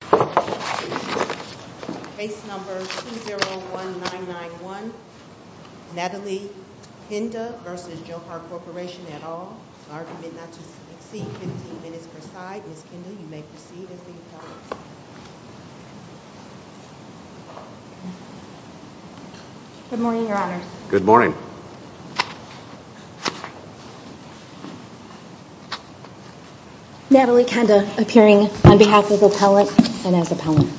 Good morning, your honors. Good morning. Natalie Qandah appearing on behalf of the appellant and as appellant.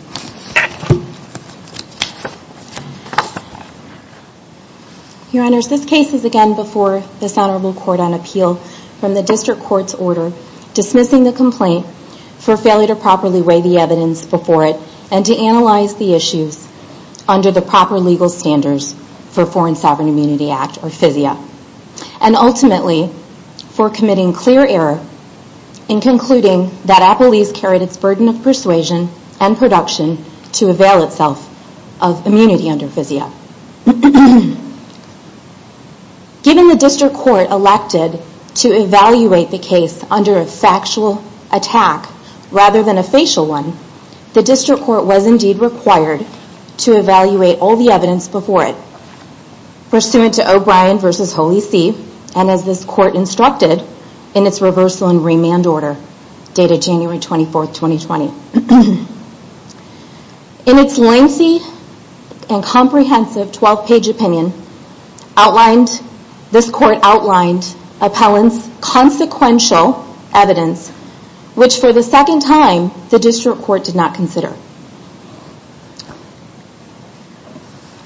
Your honors, this case is again before this honorable court on appeal from the district court's order dismissing the complaint for failure to properly weigh the evidence before it and to analyze the issues under the proper legal standards for Foreign Sovereign Immunity Act or FISIA and ultimately for committing clear error in concluding that Appelese carried its burden of persuasion and production to avail itself of immunity under FISIA. Given the district court elected to evaluate the case under a factual attack rather than a facial one, the district court was indeed required to evaluate all the evidence before it. Pursuant to O'Brien v. Holy See and as this court instructed in its reversal and remand order dated January 24, 2020. In its lengthy and comprehensive 12-page opinion, this court outlined appellant's consequential evidence which for the second time the district court did not consider.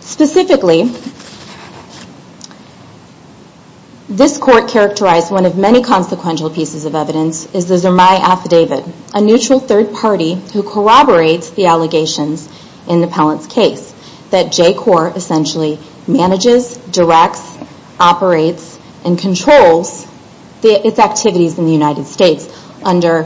Specifically, this court characterized one of many consequential pieces of evidence is the Zermay Affidavit, a neutral third party who corroborates the allegations in the appellant's case that J-Corps essentially manages, directs, operates, and controls its activities in the United States. Do you say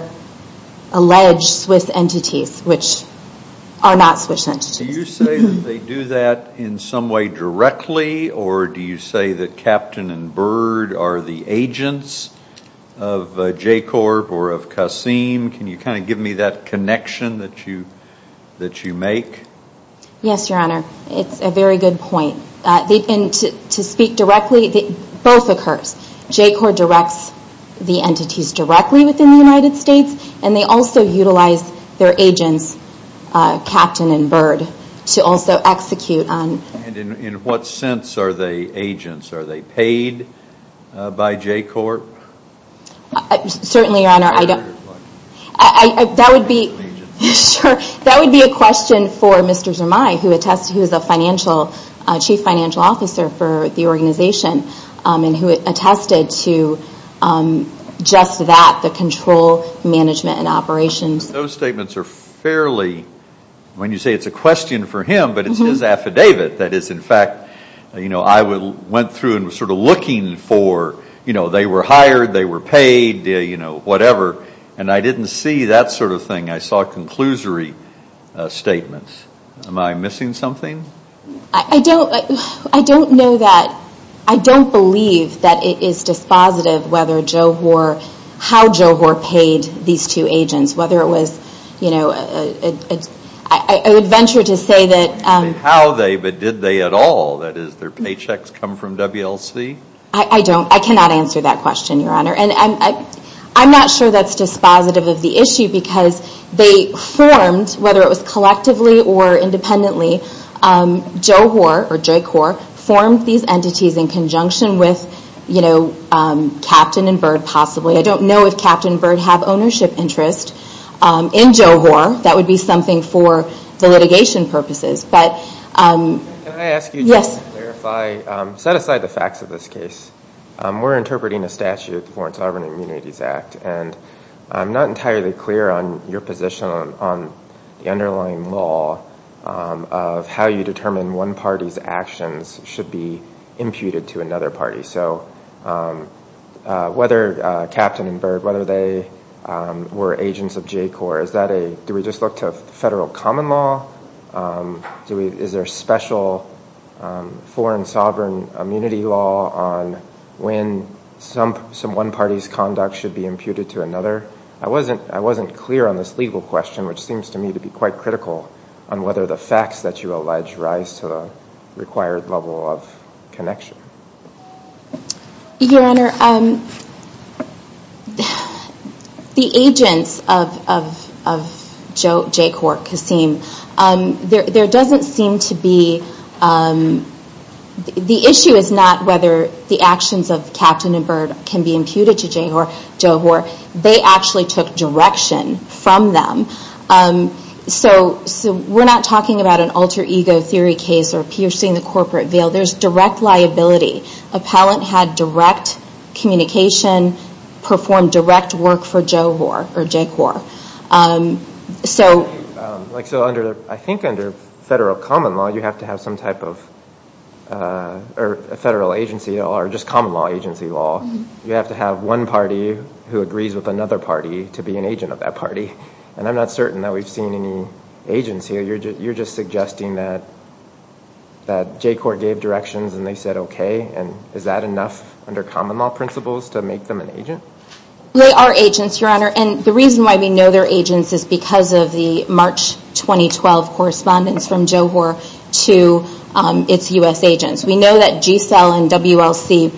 that they do that in some way directly or do you say that Captain and Byrd are the agents of J-Corps or of Kassim? Can you kind of give me that connection that you make? Yes, your honor. It's a very good point. To speak directly, both occurs. J-Corps directs the entities directly within the United States and they also utilize their agents, Captain and Byrd, to also execute on. In what sense are they agents? Are they paid by J-Corps? Certainly, your honor, that would be a question for Mr. Zermay who is a chief financial officer for the organization and who attested to just that, the control, management, and operations. Those statements are fairly, when you say it's a question for him, but it's his affidavit that is in fact, you know, I went through and was sort of looking for, you know, they were hired, they were paid, you know, whatever, and I didn't see that sort of thing. I saw a conclusory statement. Am I missing something? I don't, I don't know that, I don't believe that it is dispositive whether Joe Hoare, how Joe Hoare paid these two agents, whether it was, you know, I would venture to say that How they, but did they at all, that is, their paychecks come from WLC? I don't, I cannot answer that question, your honor, and I'm not sure that's dispositive of the issue because they formed, whether it was collectively or independently, Joe Hoare, or Jake Hoare, formed these entities in conjunction with, you know, Captain and Byrd possibly. I don't know if Captain and Byrd have ownership interest in Joe Hoare. That would be something for the litigation purposes, but, yes. Can I ask you, just to clarify, set aside the facts of this case. We're interpreting a statute, the Foreign Sovereign Immunities Act, and I'm not entirely clear on your position on the underlying law of how you determine one party's actions should be imputed to another party, so whether Captain and Byrd, whether they were agents of Jake Hoare, is that a, do we just look to federal common law? Is there special foreign sovereign immunity law on when some, some one party's conduct should be imputed to another? I wasn't, I wasn't clear on this legal question, which seems to me to be quite critical on whether the facts that you allege rise to the required level of connection. Your honor, the agents of, of, of Joe, Jake Hoare, Kasim, there, there doesn't seem to be, the issue is not whether the actions of Captain and Byrd can be imputed to Jake Hoare, Joe Hoare, they actually took direction from them, so, so we're not talking about an alter ego theory case or piercing the corporate veil, there's direct liability. Appellant had direct communication, performed direct work for Joe Hoare, or Jake Hoare, so. Like, so under, I think under federal common law you have to have some type of, or federal agency law, or just common law agency law, you have to have one party who agrees with another party to be an agent of that party. And I'm not certain that we've seen any agents here, you're just, you're just suggesting that, that Jake Hoare gave directions and they said okay, and is that enough under common law principles to make them an agent? They are agents, your honor, and the reason why we know they're agents is because of the March 2012 correspondence from Joe Hoare to its U.S. agents. We know that G-Cell and WLC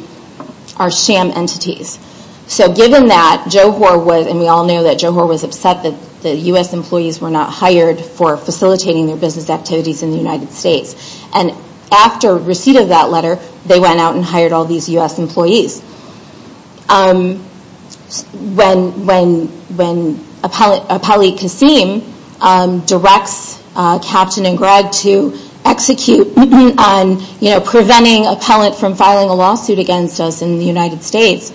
are sham entities, so given that Joe Hoare was, and we all know that Joe Hoare was upset that the U.S. employees were not hired for facilitating their business activities in the United States, and after receipt of that letter, they went out and hired all these U.S. employees. When, when, when Appellee Kassim directs Captain and Greg to execute on, you know, preventing appellant from filing a lawsuit against us in the United States,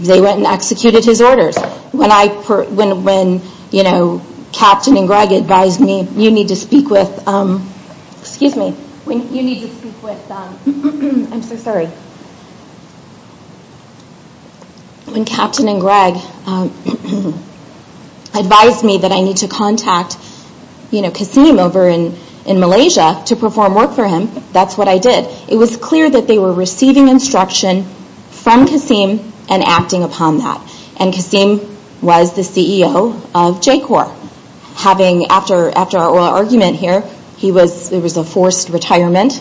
they went and executed his orders. When I, when, when, you know, Captain and Greg advised me, you need to speak with, excuse me, when Captain and Greg advised me that I need to contact, you know, Kassim over in, in Malaysia to perform work for him, that's what I did. It was clear that they were receiving instruction from Kassim and acting upon that, and Kassim was the CEO of Jake Hoare, having, after, after our oral argument here, he was, it was a forced retirement,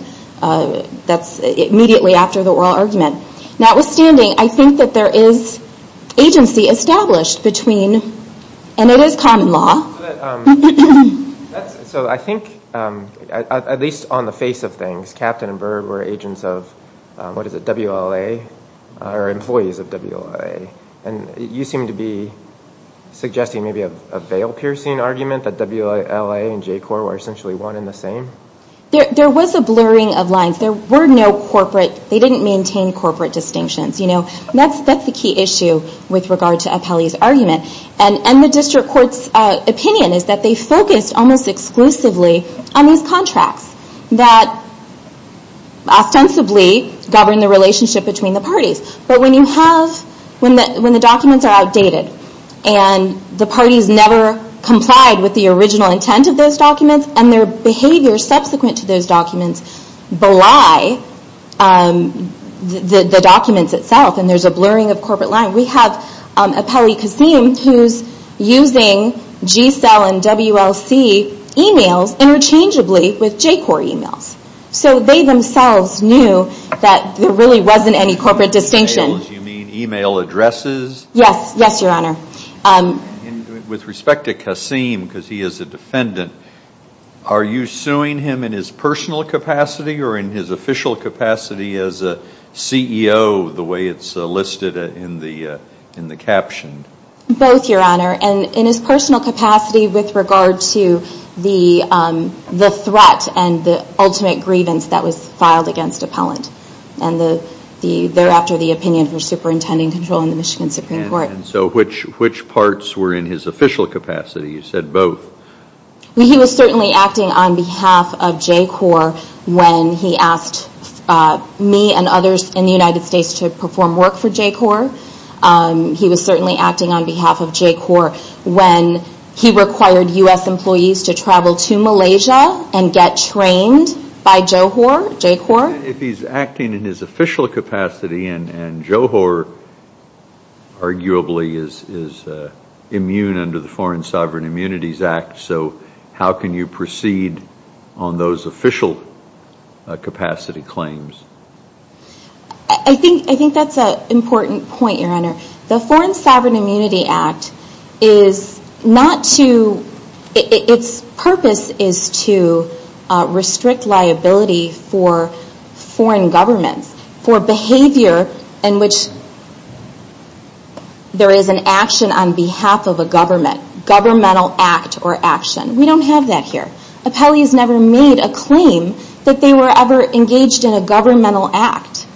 that's immediately after the oral argument. Notwithstanding, I think that there is agency established between, and it is common law. So I think, at least on the face of things, Captain and Berg were agents of, what is it, WLA, or employees of WLA, and you seem to be suggesting maybe a veil-piercing argument that WLA and Jake Hoare were essentially one and the same? There was a blurring of lines. There were no corporate, they didn't maintain corporate distinctions, you know. That's, that's the key issue with regard to Apelli's argument. And the District Court's opinion is that they focused almost exclusively on these contracts that ostensibly govern the relationship between the parties. But when you have, when the documents are outdated, and the parties never complied with the original intent of those documents, and their behavior subsequent to those documents belie the documents itself, and there's a blurring of corporate lines. We have Apelli-Kassim, who's using G-Cell and WLC emails interchangeably with Jake Hoare emails. So they themselves knew that there really wasn't any corporate distinction. By emails you mean email addresses? Yes, yes, your honor. And with respect to Kassim, because he is a defendant, are you suing him in his personal capacity or in his official capacity as a CEO the way it's listed in the, in the caption? Both, your honor. And in his personal capacity with regard to the, the threat and the ultimate grievance that was filed against Apellant. And the, the, thereafter the opinion for superintending control in the Michigan Supreme Court. And so which, which parts were in his official capacity? You said both. He was certainly acting on behalf of Jake Hoare when he asked me and others in the United States to perform work for Jake Hoare. He was certainly acting on behalf of Jake Hoare when he required U.S. employees to travel to Malaysia and get trained by Joe Hoare, Jake Hoare. If he's acting in his official capacity and, and Joe Hoare arguably is, is immune under the Foreign Sovereign Immunities Act, so how can you proceed on those official capacity claims? I think, I think that's an important point, your honor. The Foreign Sovereign Immunity Act is not to, its purpose is to restrict liability for, for, for, for, for, for, for foreign governments, for behavior in which there is an action on behalf of a government, governmental act or action. We don't have that here. Apellees never made a claim that they were ever engaged in a governmental act.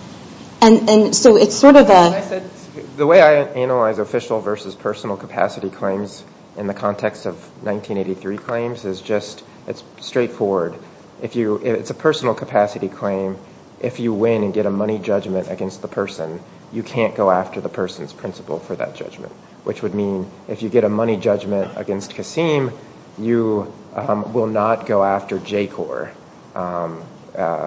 And, and so it's sort of a... I said, the way I analyze official versus personal capacity claims in the context of this is straightforward. If you, it's a personal capacity claim. If you win and get a money judgment against the person, you can't go after the person's principal for that judgment, which would mean if you get a money judgment against Kassim, you will not go after Jake Hoare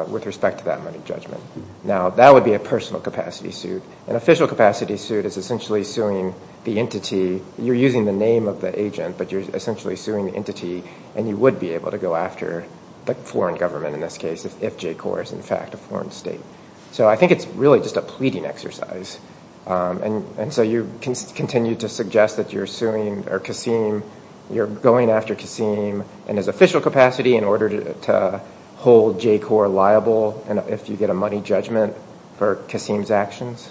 with respect to that money judgment. Now, that would be a personal capacity suit. An official capacity suit is essentially suing the entity. You're using the name of the agent, but you're essentially suing the entity and you would be able to go after the foreign government in this case, if Jake Hoare is in fact a foreign state. So I think it's really just a pleading exercise. And, and so you can continue to suggest that you're suing or Kassim, you're going after Kassim and his official capacity in order to hold Jake Hoare liable and if you get a money judgment for Kassim's actions.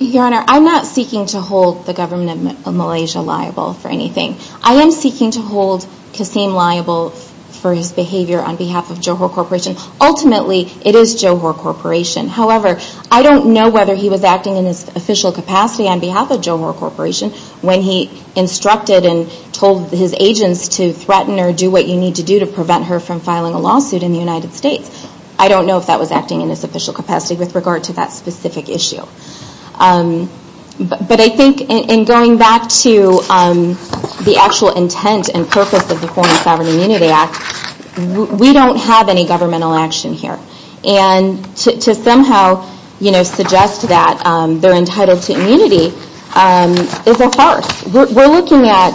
Your Honor, I'm not seeking to hold the government of Malaysia liable for anything. I am seeking to hold Kassim liable for his behavior on behalf of Johor Corporation. Ultimately, it is Johor Corporation. However, I don't know whether he was acting in his official capacity on behalf of Johor Corporation when he instructed and told his agents to threaten or do what you need to do to prevent her from filing a lawsuit in the United States. I don't know if that was acting in his official capacity with regard to that specific issue. But I think in going back to the actual intent and purpose of the Foreign Sovereign Immunity Act, we don't have any governmental action here. And to somehow suggest that they're entitled to immunity is a farce. We're looking at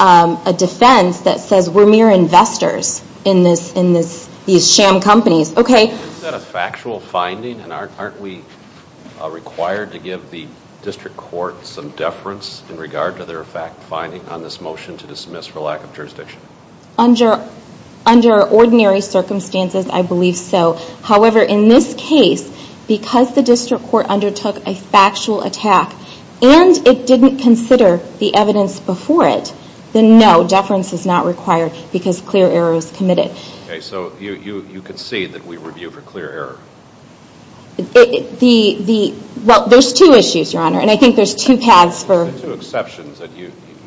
a defense that says we're mere investors in these sham companies. Okay. Is that a factual finding and aren't we required to give the District Court some deference in regard to their fact finding on this motion to dismiss for lack of jurisdiction? Under ordinary circumstances, I believe so. However, in this case, because the District Court undertook a factual attack and it didn't consider the evidence before it, then no, deference is not required because clear error is committed. Okay. So you concede that we review for clear error? Well, there's two issues, Your Honor, and I think there's two paths for... There's two exceptions that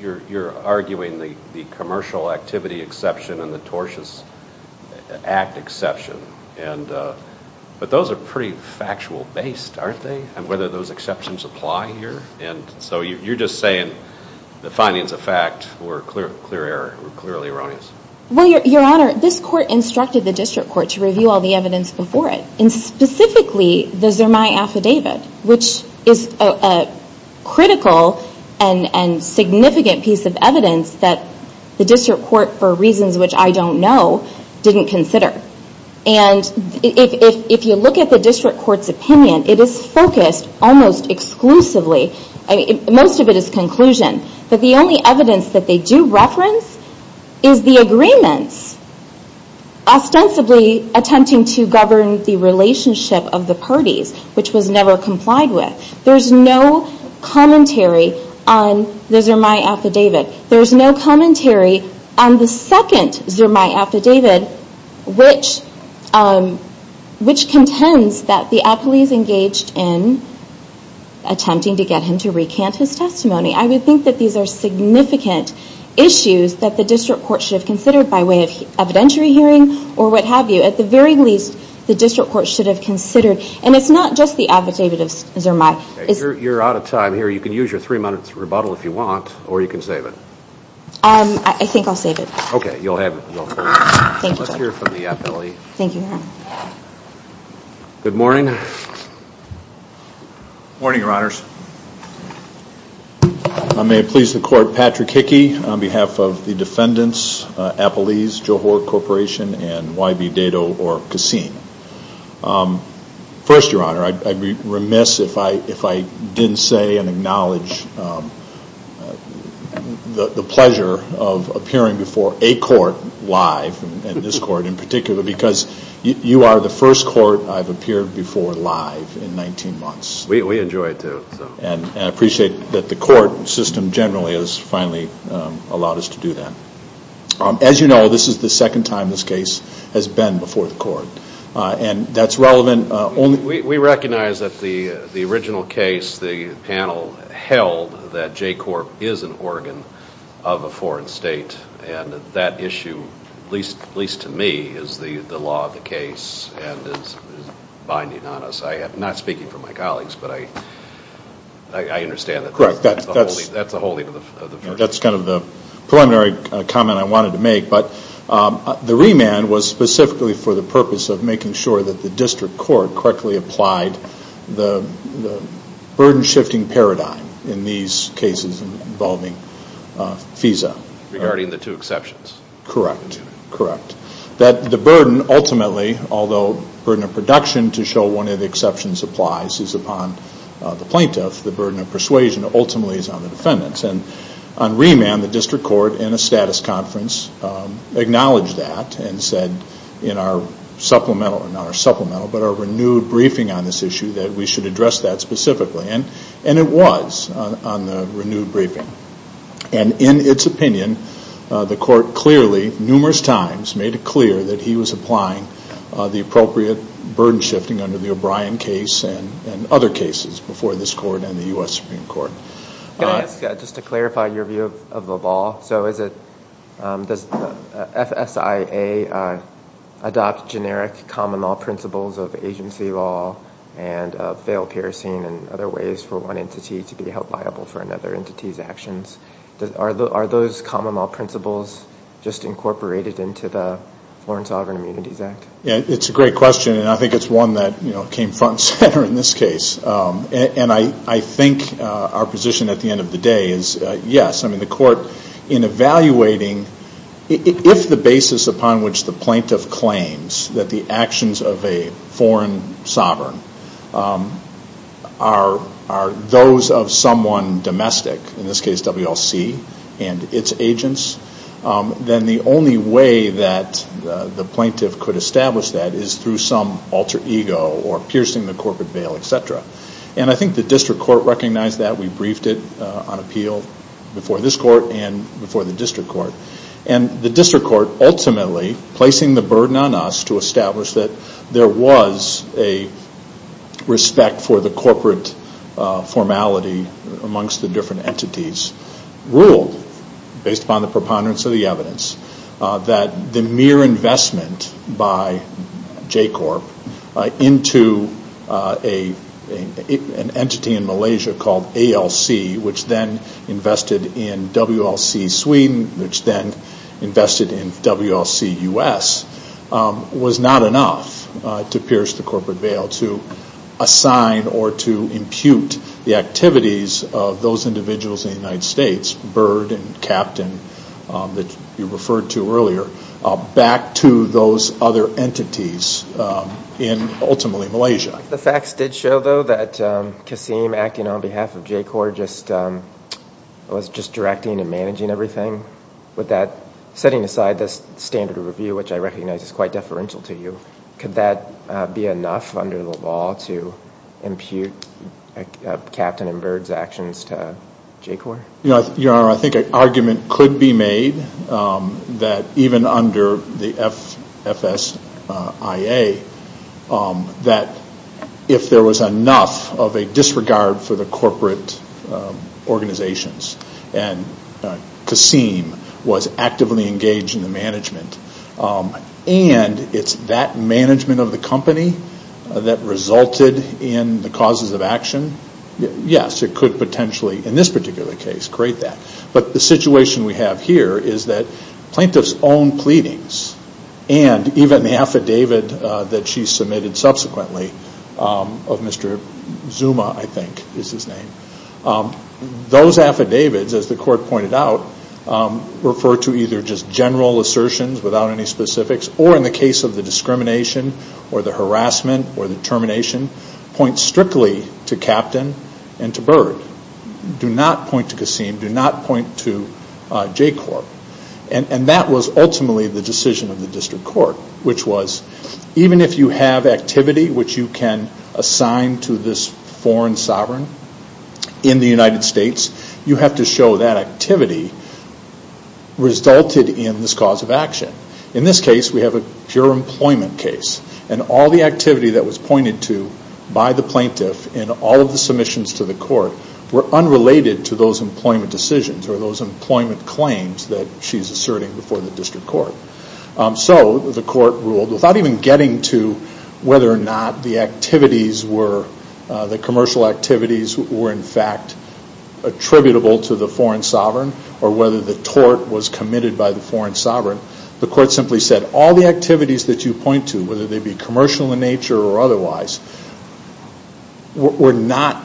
you're arguing, the Commercial Activity Exception and the Tortious Act Exception. But those are pretty factual based, aren't they? And those exceptions apply here? And so you're just saying the findings of fact were clear error, were clearly erroneous? Well, Your Honor, this court instructed the District Court to review all the evidence before it. And specifically, the Zermine Affidavit, which is a critical and significant piece of evidence that the District Court, for reasons which I don't know, didn't consider. And if you look at the District Court's opinion, it is focused, almost exclusively, most of it is conclusion, that the only evidence that they do reference is the agreements, ostensibly attempting to govern the relationship of the parties, which was never complied with. There's no commentary on the Zermine Affidavit. There's no commentary on the second Zermine Affidavit, which contends that the appellees engaged in attempting to get him to recant his testimony. I would think that these are significant issues that the District Court should have considered by way of evidentiary hearing, or what have you. At the very least, the District Court should have considered. And it's not just the Affidavit of Zermine. You're out of time here. You can use your three minutes rebuttal if you want, or you can save it. I think I'll save it. Okay, you'll have it. Thank you, Your Honor. Good morning. Good morning, Your Honors. I may please the Court, Patrick Hickey, on behalf of the defendants, Appellees, Johor Corporation, and Y.B. Dado or Kassim. First, Your Honor, I'd be remiss if I didn't say and acknowledge the pleasure of appearing before a court live, and this court in particular, because you are the first court I've appeared before live in 19 months. We enjoy it, too. And I appreciate that the court system generally has finally allowed us to do that. As you know, this is the second time this case has been before the court. And that's relevant only... We recognize that the original case, the panel held that J Corp. is an organ of a foreign state. And that issue, at least to me, is the law of the case and is binding on us. I am not speaking for my colleagues, but I understand that that's the holding of the verdict. That's kind of the preliminary comment I wanted to make. But the remand was specifically for the purpose of making sure that the district court correctly applied the burden-shifting paradigm in these cases involving FISA. Regarding the two exceptions. Correct. That the burden ultimately, although burden of production to show one of the exceptions applies, is upon the plaintiff. The burden of persuasion ultimately is on the defendants. And on remand, the district court in a status of supplemental, but a renewed briefing on this issue, that we should address that specifically. And it was on the renewed briefing. And in its opinion, the court clearly, numerous times, made it clear that he was applying the appropriate burden-shifting under the O'Brien case and other cases before this court and the U.S. Supreme Court. Can I ask, just to clarify your view of the law, so is it, does FSIA adopt generic common law principles of agency law and veil piercing and other ways for one entity to be held liable for another entity's actions? Are those common law principles just incorporated into the Foreign Sovereign Immunities Act? It's a great question. And I think it's one that came front and center in this case. And I think our position at the end of the day is yes. I mean, the court, in evaluating, if the basis upon which the plaintiff claims that the actions of a foreign sovereign are those of someone domestic, in this case WLC and its agents, then the only way that the plaintiff could establish that is through some alter ego or piercing the corporate veil, etc. And I think the district court recognized that. We briefed it on appeal before this court. And the district court ultimately, placing the burden on us to establish that there was a respect for the corporate formality amongst the different entities, ruled, based upon the preponderance of the evidence, that the mere investment by JCORP into an entity in Malaysia called ALC, which then invested in WLC Sweden, which then invested in WLC U.S., was not enough to pierce the corporate veil, to assign or to impute the activities of those individuals in the United States, Byrd and Kapton, that you referred to earlier, back to those other entities in ultimately Malaysia. The facts did show, though, that Kassim, acting on behalf of JCORP, was just directing and managing everything. Setting aside this standard of review, which I recognize is quite deferential to you, could that be enough under the law to impute Kapton and Byrd's actions to JCORP? Your Honor, I think an argument could be made that even under the FFSIA, that there was enough of a disregard for the corporate organizations, and Kassim was actively engaged in the management, and it's that management of the company that resulted in the causes of action. Yes, it could potentially, in this particular case, create that. But the situation we have here is that plaintiff's own pleadings, and even the affidavit that she submitted subsequently, of Mr. Zuma, I think is his name, those affidavits, as the Court pointed out, refer to either just general assertions without any specifics, or in the case of the discrimination or the harassment or the termination, point strictly to Kapton and to Byrd. Do not point to Kassim. Do not point to JCORP. And that was ultimately the decision of the District Court, which was, even if you have activity which you can assign to this foreign sovereign in the United States, you have to show that activity resulted in this cause of action. In this case, we have a pure employment case, and all the activity that was pointed to by the plaintiff in all of the submissions to the Court were unrelated to those employment decisions, or those employment decisions. Without even getting to whether or not the activities were, the commercial activities were in fact attributable to the foreign sovereign, or whether the tort was committed by the foreign sovereign, the Court simply said all the activities that you point to, whether they be commercial in nature or otherwise, were not,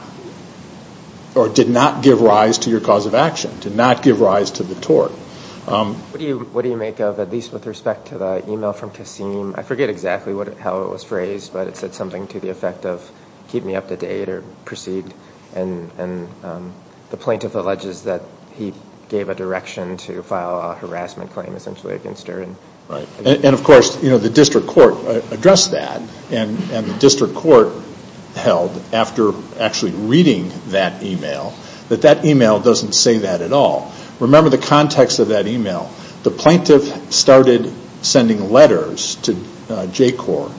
or did not give rise to your cause of action, did not give rise to the tort. What do you make of, at least with respect to the email from Kassim? I forget exactly how it was phrased, but it said something to the effect of, keep me up to date, or proceed, and the plaintiff alleges that he gave a direction to file a harassment claim essentially against her. Right. And of course, the District Court addressed that, and the District Court held, after actually reading that email, that that email doesn't say that at all. Remember the context of that email. The plaintiff started sending letters to J-Corps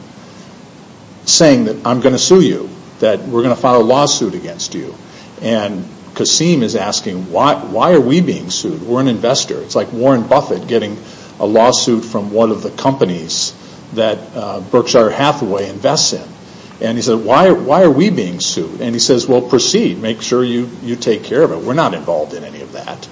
saying that, I'm going to sue you, that we're going to file a lawsuit against you. And Kassim is asking, why are we being sued? We're an investor. It's like Warren Buffett getting a lawsuit from one of the companies that Berkshire Hathaway invests in. And he said, why are we being sued? And he says, well, proceed. Make sure you take care of it. We're not involved in any of that.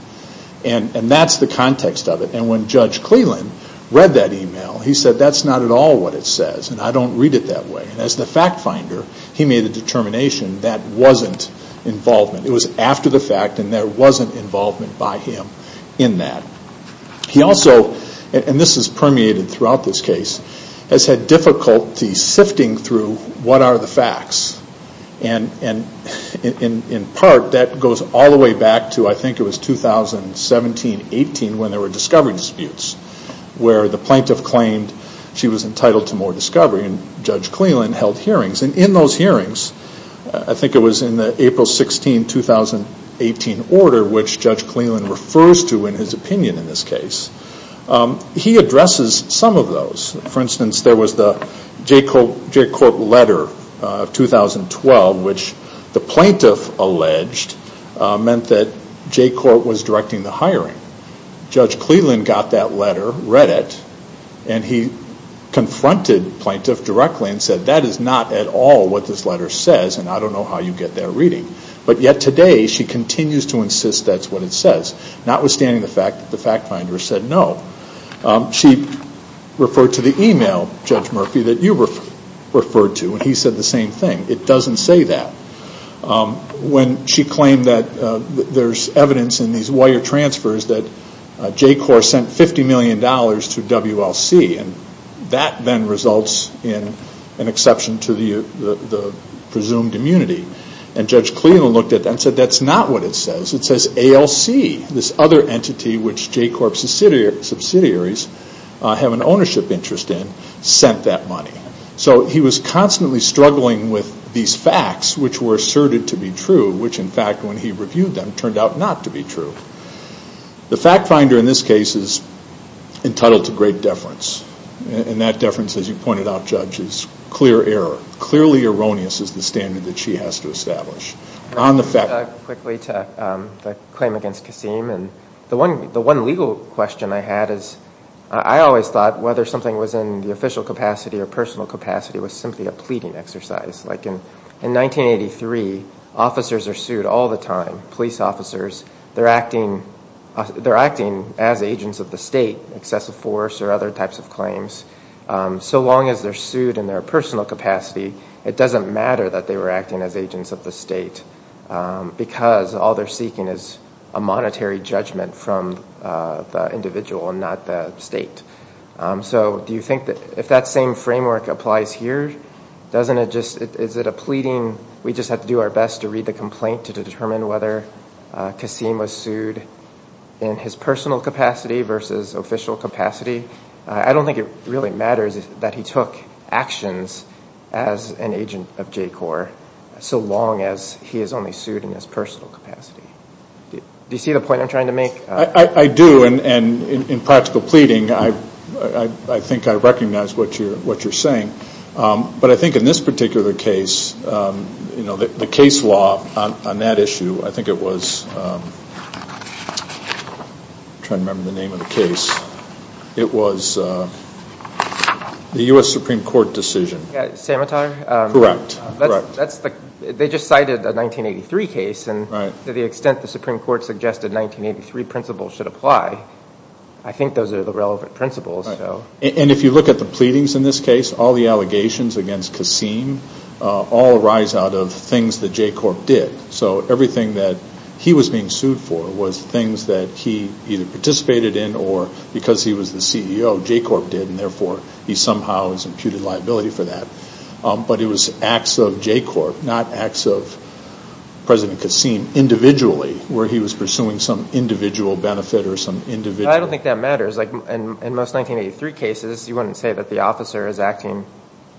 And that's the context of it. And when Judge Cleland read that email, he said, that's not at all what it says, and I don't read it that way. And as the fact finder, he made a determination that wasn't involvement. It was after the fact, and there wasn't involvement by him in that. He also, and this is permeated throughout this case, has had difficulty sifting through what are the facts. And in part, that goes all the way back to, I think it was 2017-18, when there were discovery disputes, where the plaintiff claimed she was entitled to more discovery, and Judge Cleland held hearings. And in those hearings, I think it was in the April 16, 2018 order, which Judge Cleland refers to in his opinion in this case, he got a letter of 2012, which the plaintiff alleged meant that J Court was directing the hiring. Judge Cleland got that letter, read it, and he confronted the plaintiff directly and said, that is not at all what this letter says, and I don't know how you get that reading. But yet today, she continues to insist that's what it says, notwithstanding the fact that when he said the same thing, it doesn't say that. When she claimed that there's evidence in these wire transfers that J Corp sent $50 million to WLC, and that then results in an exception to the presumed immunity. And Judge Cleland looked at that and said, that's not what it says. It says ALC, this other entity which J Corp subsidiaries have an ownership interest in, sent that money. So he was constantly struggling with these facts which were asserted to be true, which in fact when he reviewed them turned out not to be true. The fact finder in this case is entitled to great deference. And that deference, as you pointed out, Judge, is clear error. Clearly erroneous is the standard that she has to establish. On the fact finder. Quickly to the claim against Kasim. The one legal question I had is, I always thought whether something was in the official capacity or personal capacity was simply a pleading exercise. Like in 1983, officers are sued all the time, police officers. They're acting as agents of the state, excessive force or other types of claims. So long as they're sued in their personal capacity, it doesn't matter that they were acting as agents of the state, because all they're seeking is a monetary judgment from the individual and not the state. So do you think that if that same framework applies here, is it a pleading, we just have to do our best to read the complaint to determine whether Kasim was sued in his personal capacity versus official capacity? I don't think it really matters that he took actions as an agent of J-Corps so long as he is only sued in his personal capacity. Do you see the point I'm trying to make? I do, and in practical pleading, I think I recognize what you're saying. But I think in this particular case, the case law on that issue, I think it was, I'm trying to remember the name of the case, it was the U.S. Supreme Court decision. Samatar? Correct. They just cited a 1983 case, and to the extent the Supreme Court suggested 1983 principles should apply, I think those are the relevant principles. And if you look at the pleadings in this case, all the allegations against Kasim all arise out of things that J-Corp did. So everything that he was being sued for was things that he either participated in or because he was the CEO, J-Corp did, and therefore he somehow was imputed liability for that. But it was acts of J-Corp, not acts of President Kasim individually where he was pursuing some individual benefit or some individual... I don't think that matters. In most 1983 cases, you wouldn't say that the officer is acting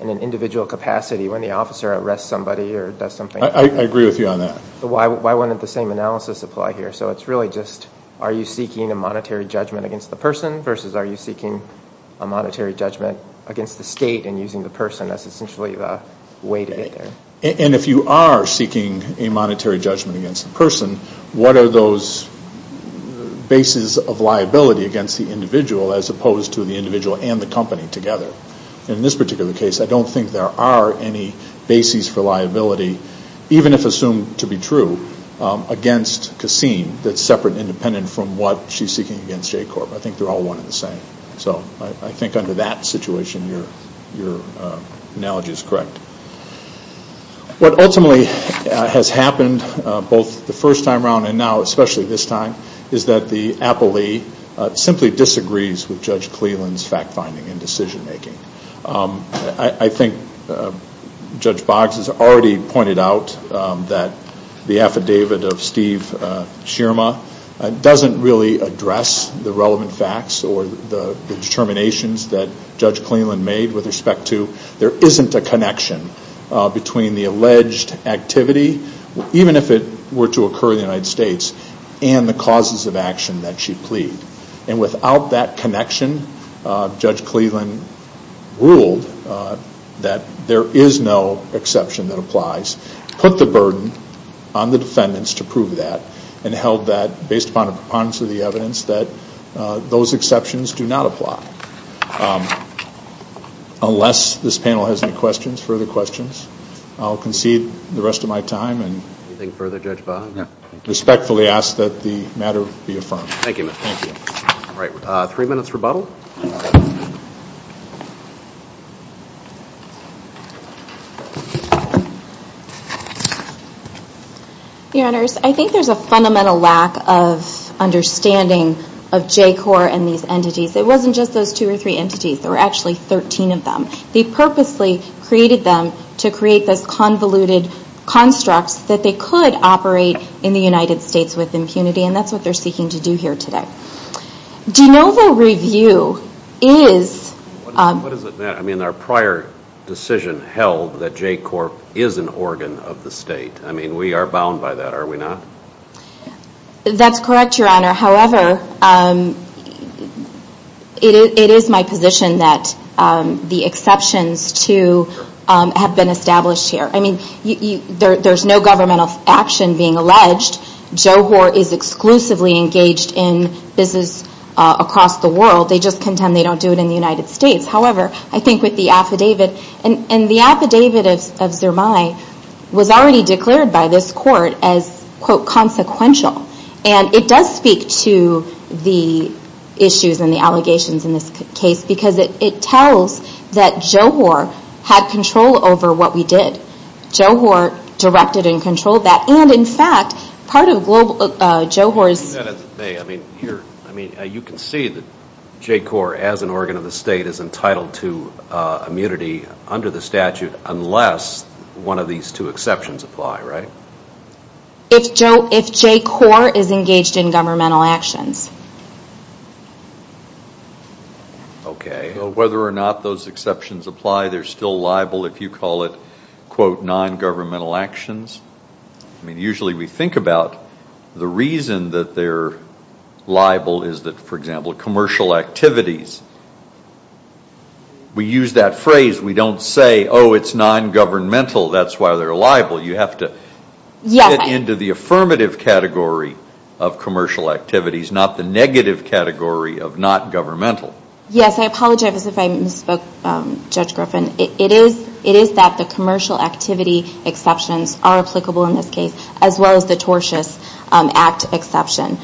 in an individual capacity when the officer arrests somebody or does something. I agree with you on that. Why wouldn't the same analysis apply here? So it's really just, are you seeking a monetary judgment against the state and using the person as essentially the way to get there? And if you are seeking a monetary judgment against the person, what are those bases of liability against the individual as opposed to the individual and the company together? In this particular case, I don't think there are any bases for liability, even if assumed to be true, against Kasim that's separate and independent from what she's seeking against J-Corp. I think they're all one and the same. So I think under that situation, your analogy is correct. What ultimately has happened both the first time around and now, especially this time, is that the appellee simply disagrees with Judge Cleland's fact-finding and decision-making. I think Judge Boggs has already pointed out that the affidavit of Steve Schirmer doesn't really address the relevant facts or the determinations that Judge Cleland made with respect to there isn't a connection between the alleged activity, even if it were to occur in the United States, and the causes of action that she pleaded. And without that connection, Judge Cleland ruled that there is no exception that applies, put the burden on the defendants to prove that, and held that, based upon the evidence, that those exceptions do not apply. Unless this panel has any questions, further questions, I'll concede the rest of my time and respectfully ask that the matter be affirmed. Thank you. Three minutes rebuttal. Your Honors, I think there's a fundamental lack of understanding of J-Corps and these entities. It wasn't just those two or three entities, there were actually 13 of them. They purposely created them to create those convoluted constructs that they could operate in the United States with impunity, and that's what they're seeking to do here today. Do you know the review is... What does it mean? I mean, our prior decision held that J-Corp is an organ of the state. I mean, we are bound by that, are we not? That's correct, Your Honor. However, it is my position that the exceptions to have been alleged, J-Corps is exclusively engaged in business across the world. They just contend they don't do it in the United States. However, I think with the affidavit, and the affidavit of Zermay was already declared by this court as, quote, consequential. It does speak to the issues and the allegations in this case, because it tells that J-Corps had control over what we did. J-Corps directed and controlled that, and in fact, part of global... J-Corps is... I mean, you can see that J-Corps as an organ of the state is entitled to immunity under the statute unless one of these two exceptions apply, right? If J-Corps is engaged in governmental actions. Okay, so whether or not those exceptions apply, they're still liable if you call it, quote, non-governmental actions. I mean, usually we think about the reason that they're liable is that, for example, commercial activities. We use that phrase. We don't say, oh, it's non-governmental. That's why they're liable. You have to get into the affirmative category of commercial activities, not the negative category of not governmental. Yes, I apologize if I misspoke, Judge Griffin. It is that the commercial activity exceptions are applicable in this case, as well as the tortious act exception.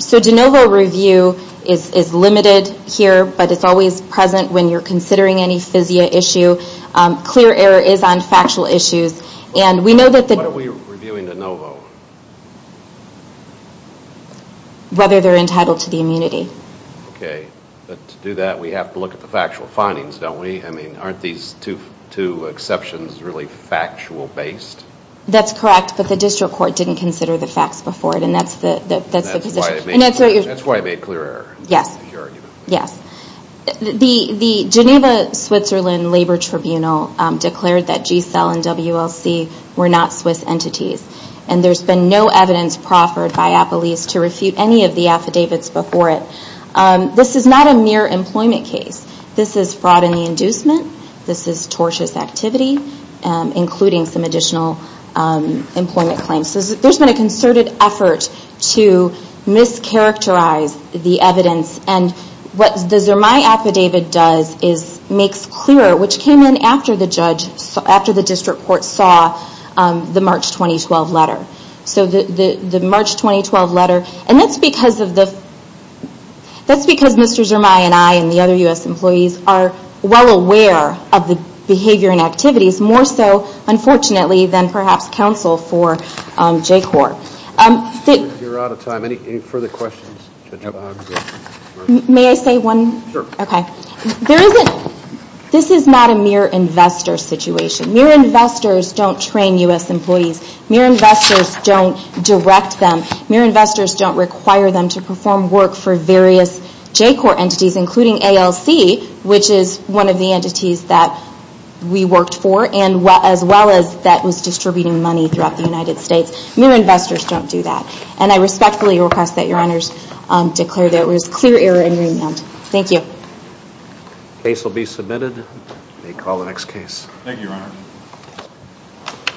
So de novo review is limited here, but it's always present when you're considering any FISIA issue. Clear error is on factual issues, and we know that the... What are we reviewing de novo? Whether they're entitled to the immunity. Okay, but to do that, we have to look at the factual findings, don't we? I mean, aren't these two exceptions really factual-based? That's correct, but the district court didn't consider the facts before it, and that's the position. That's why it made clear error, if you argue it that way. Yes. The Geneva Switzerland Labor Tribunal declared that G-Cell and WLC were not Swiss entities, and there's been no evidence proffered by Appelese to refute any of the affidavits before it. This is not a mere employment case. This is fraud in the inducement. This is tortious activity, including some additional employment claims. There's been a concerted effort to mischaracterize the evidence, and what the Zermay affidavit does is makes clear, which came in after the district court saw the March 2012 letter. That's because Mr. Zermay and I, and the other U.S. employees, are well aware of the behavior and activities, more so, unfortunately, than perhaps counsel for J-Corps. You're out of time. Any further questions? May I say one? Sure. Okay. There isn't, this is not a mere investor situation. Mere investors don't train U.S. employees. Mere investors don't direct them. Mere investors don't require them to perform work for various J-Corps entities, including ALC, which is one of the entities that we worked for, as well as that was distributing money throughout the United States. Mere investors don't do that. And I respectfully request that your honors declare that it was clear error and remand. Thank you. The case will be submitted. You may call the next case.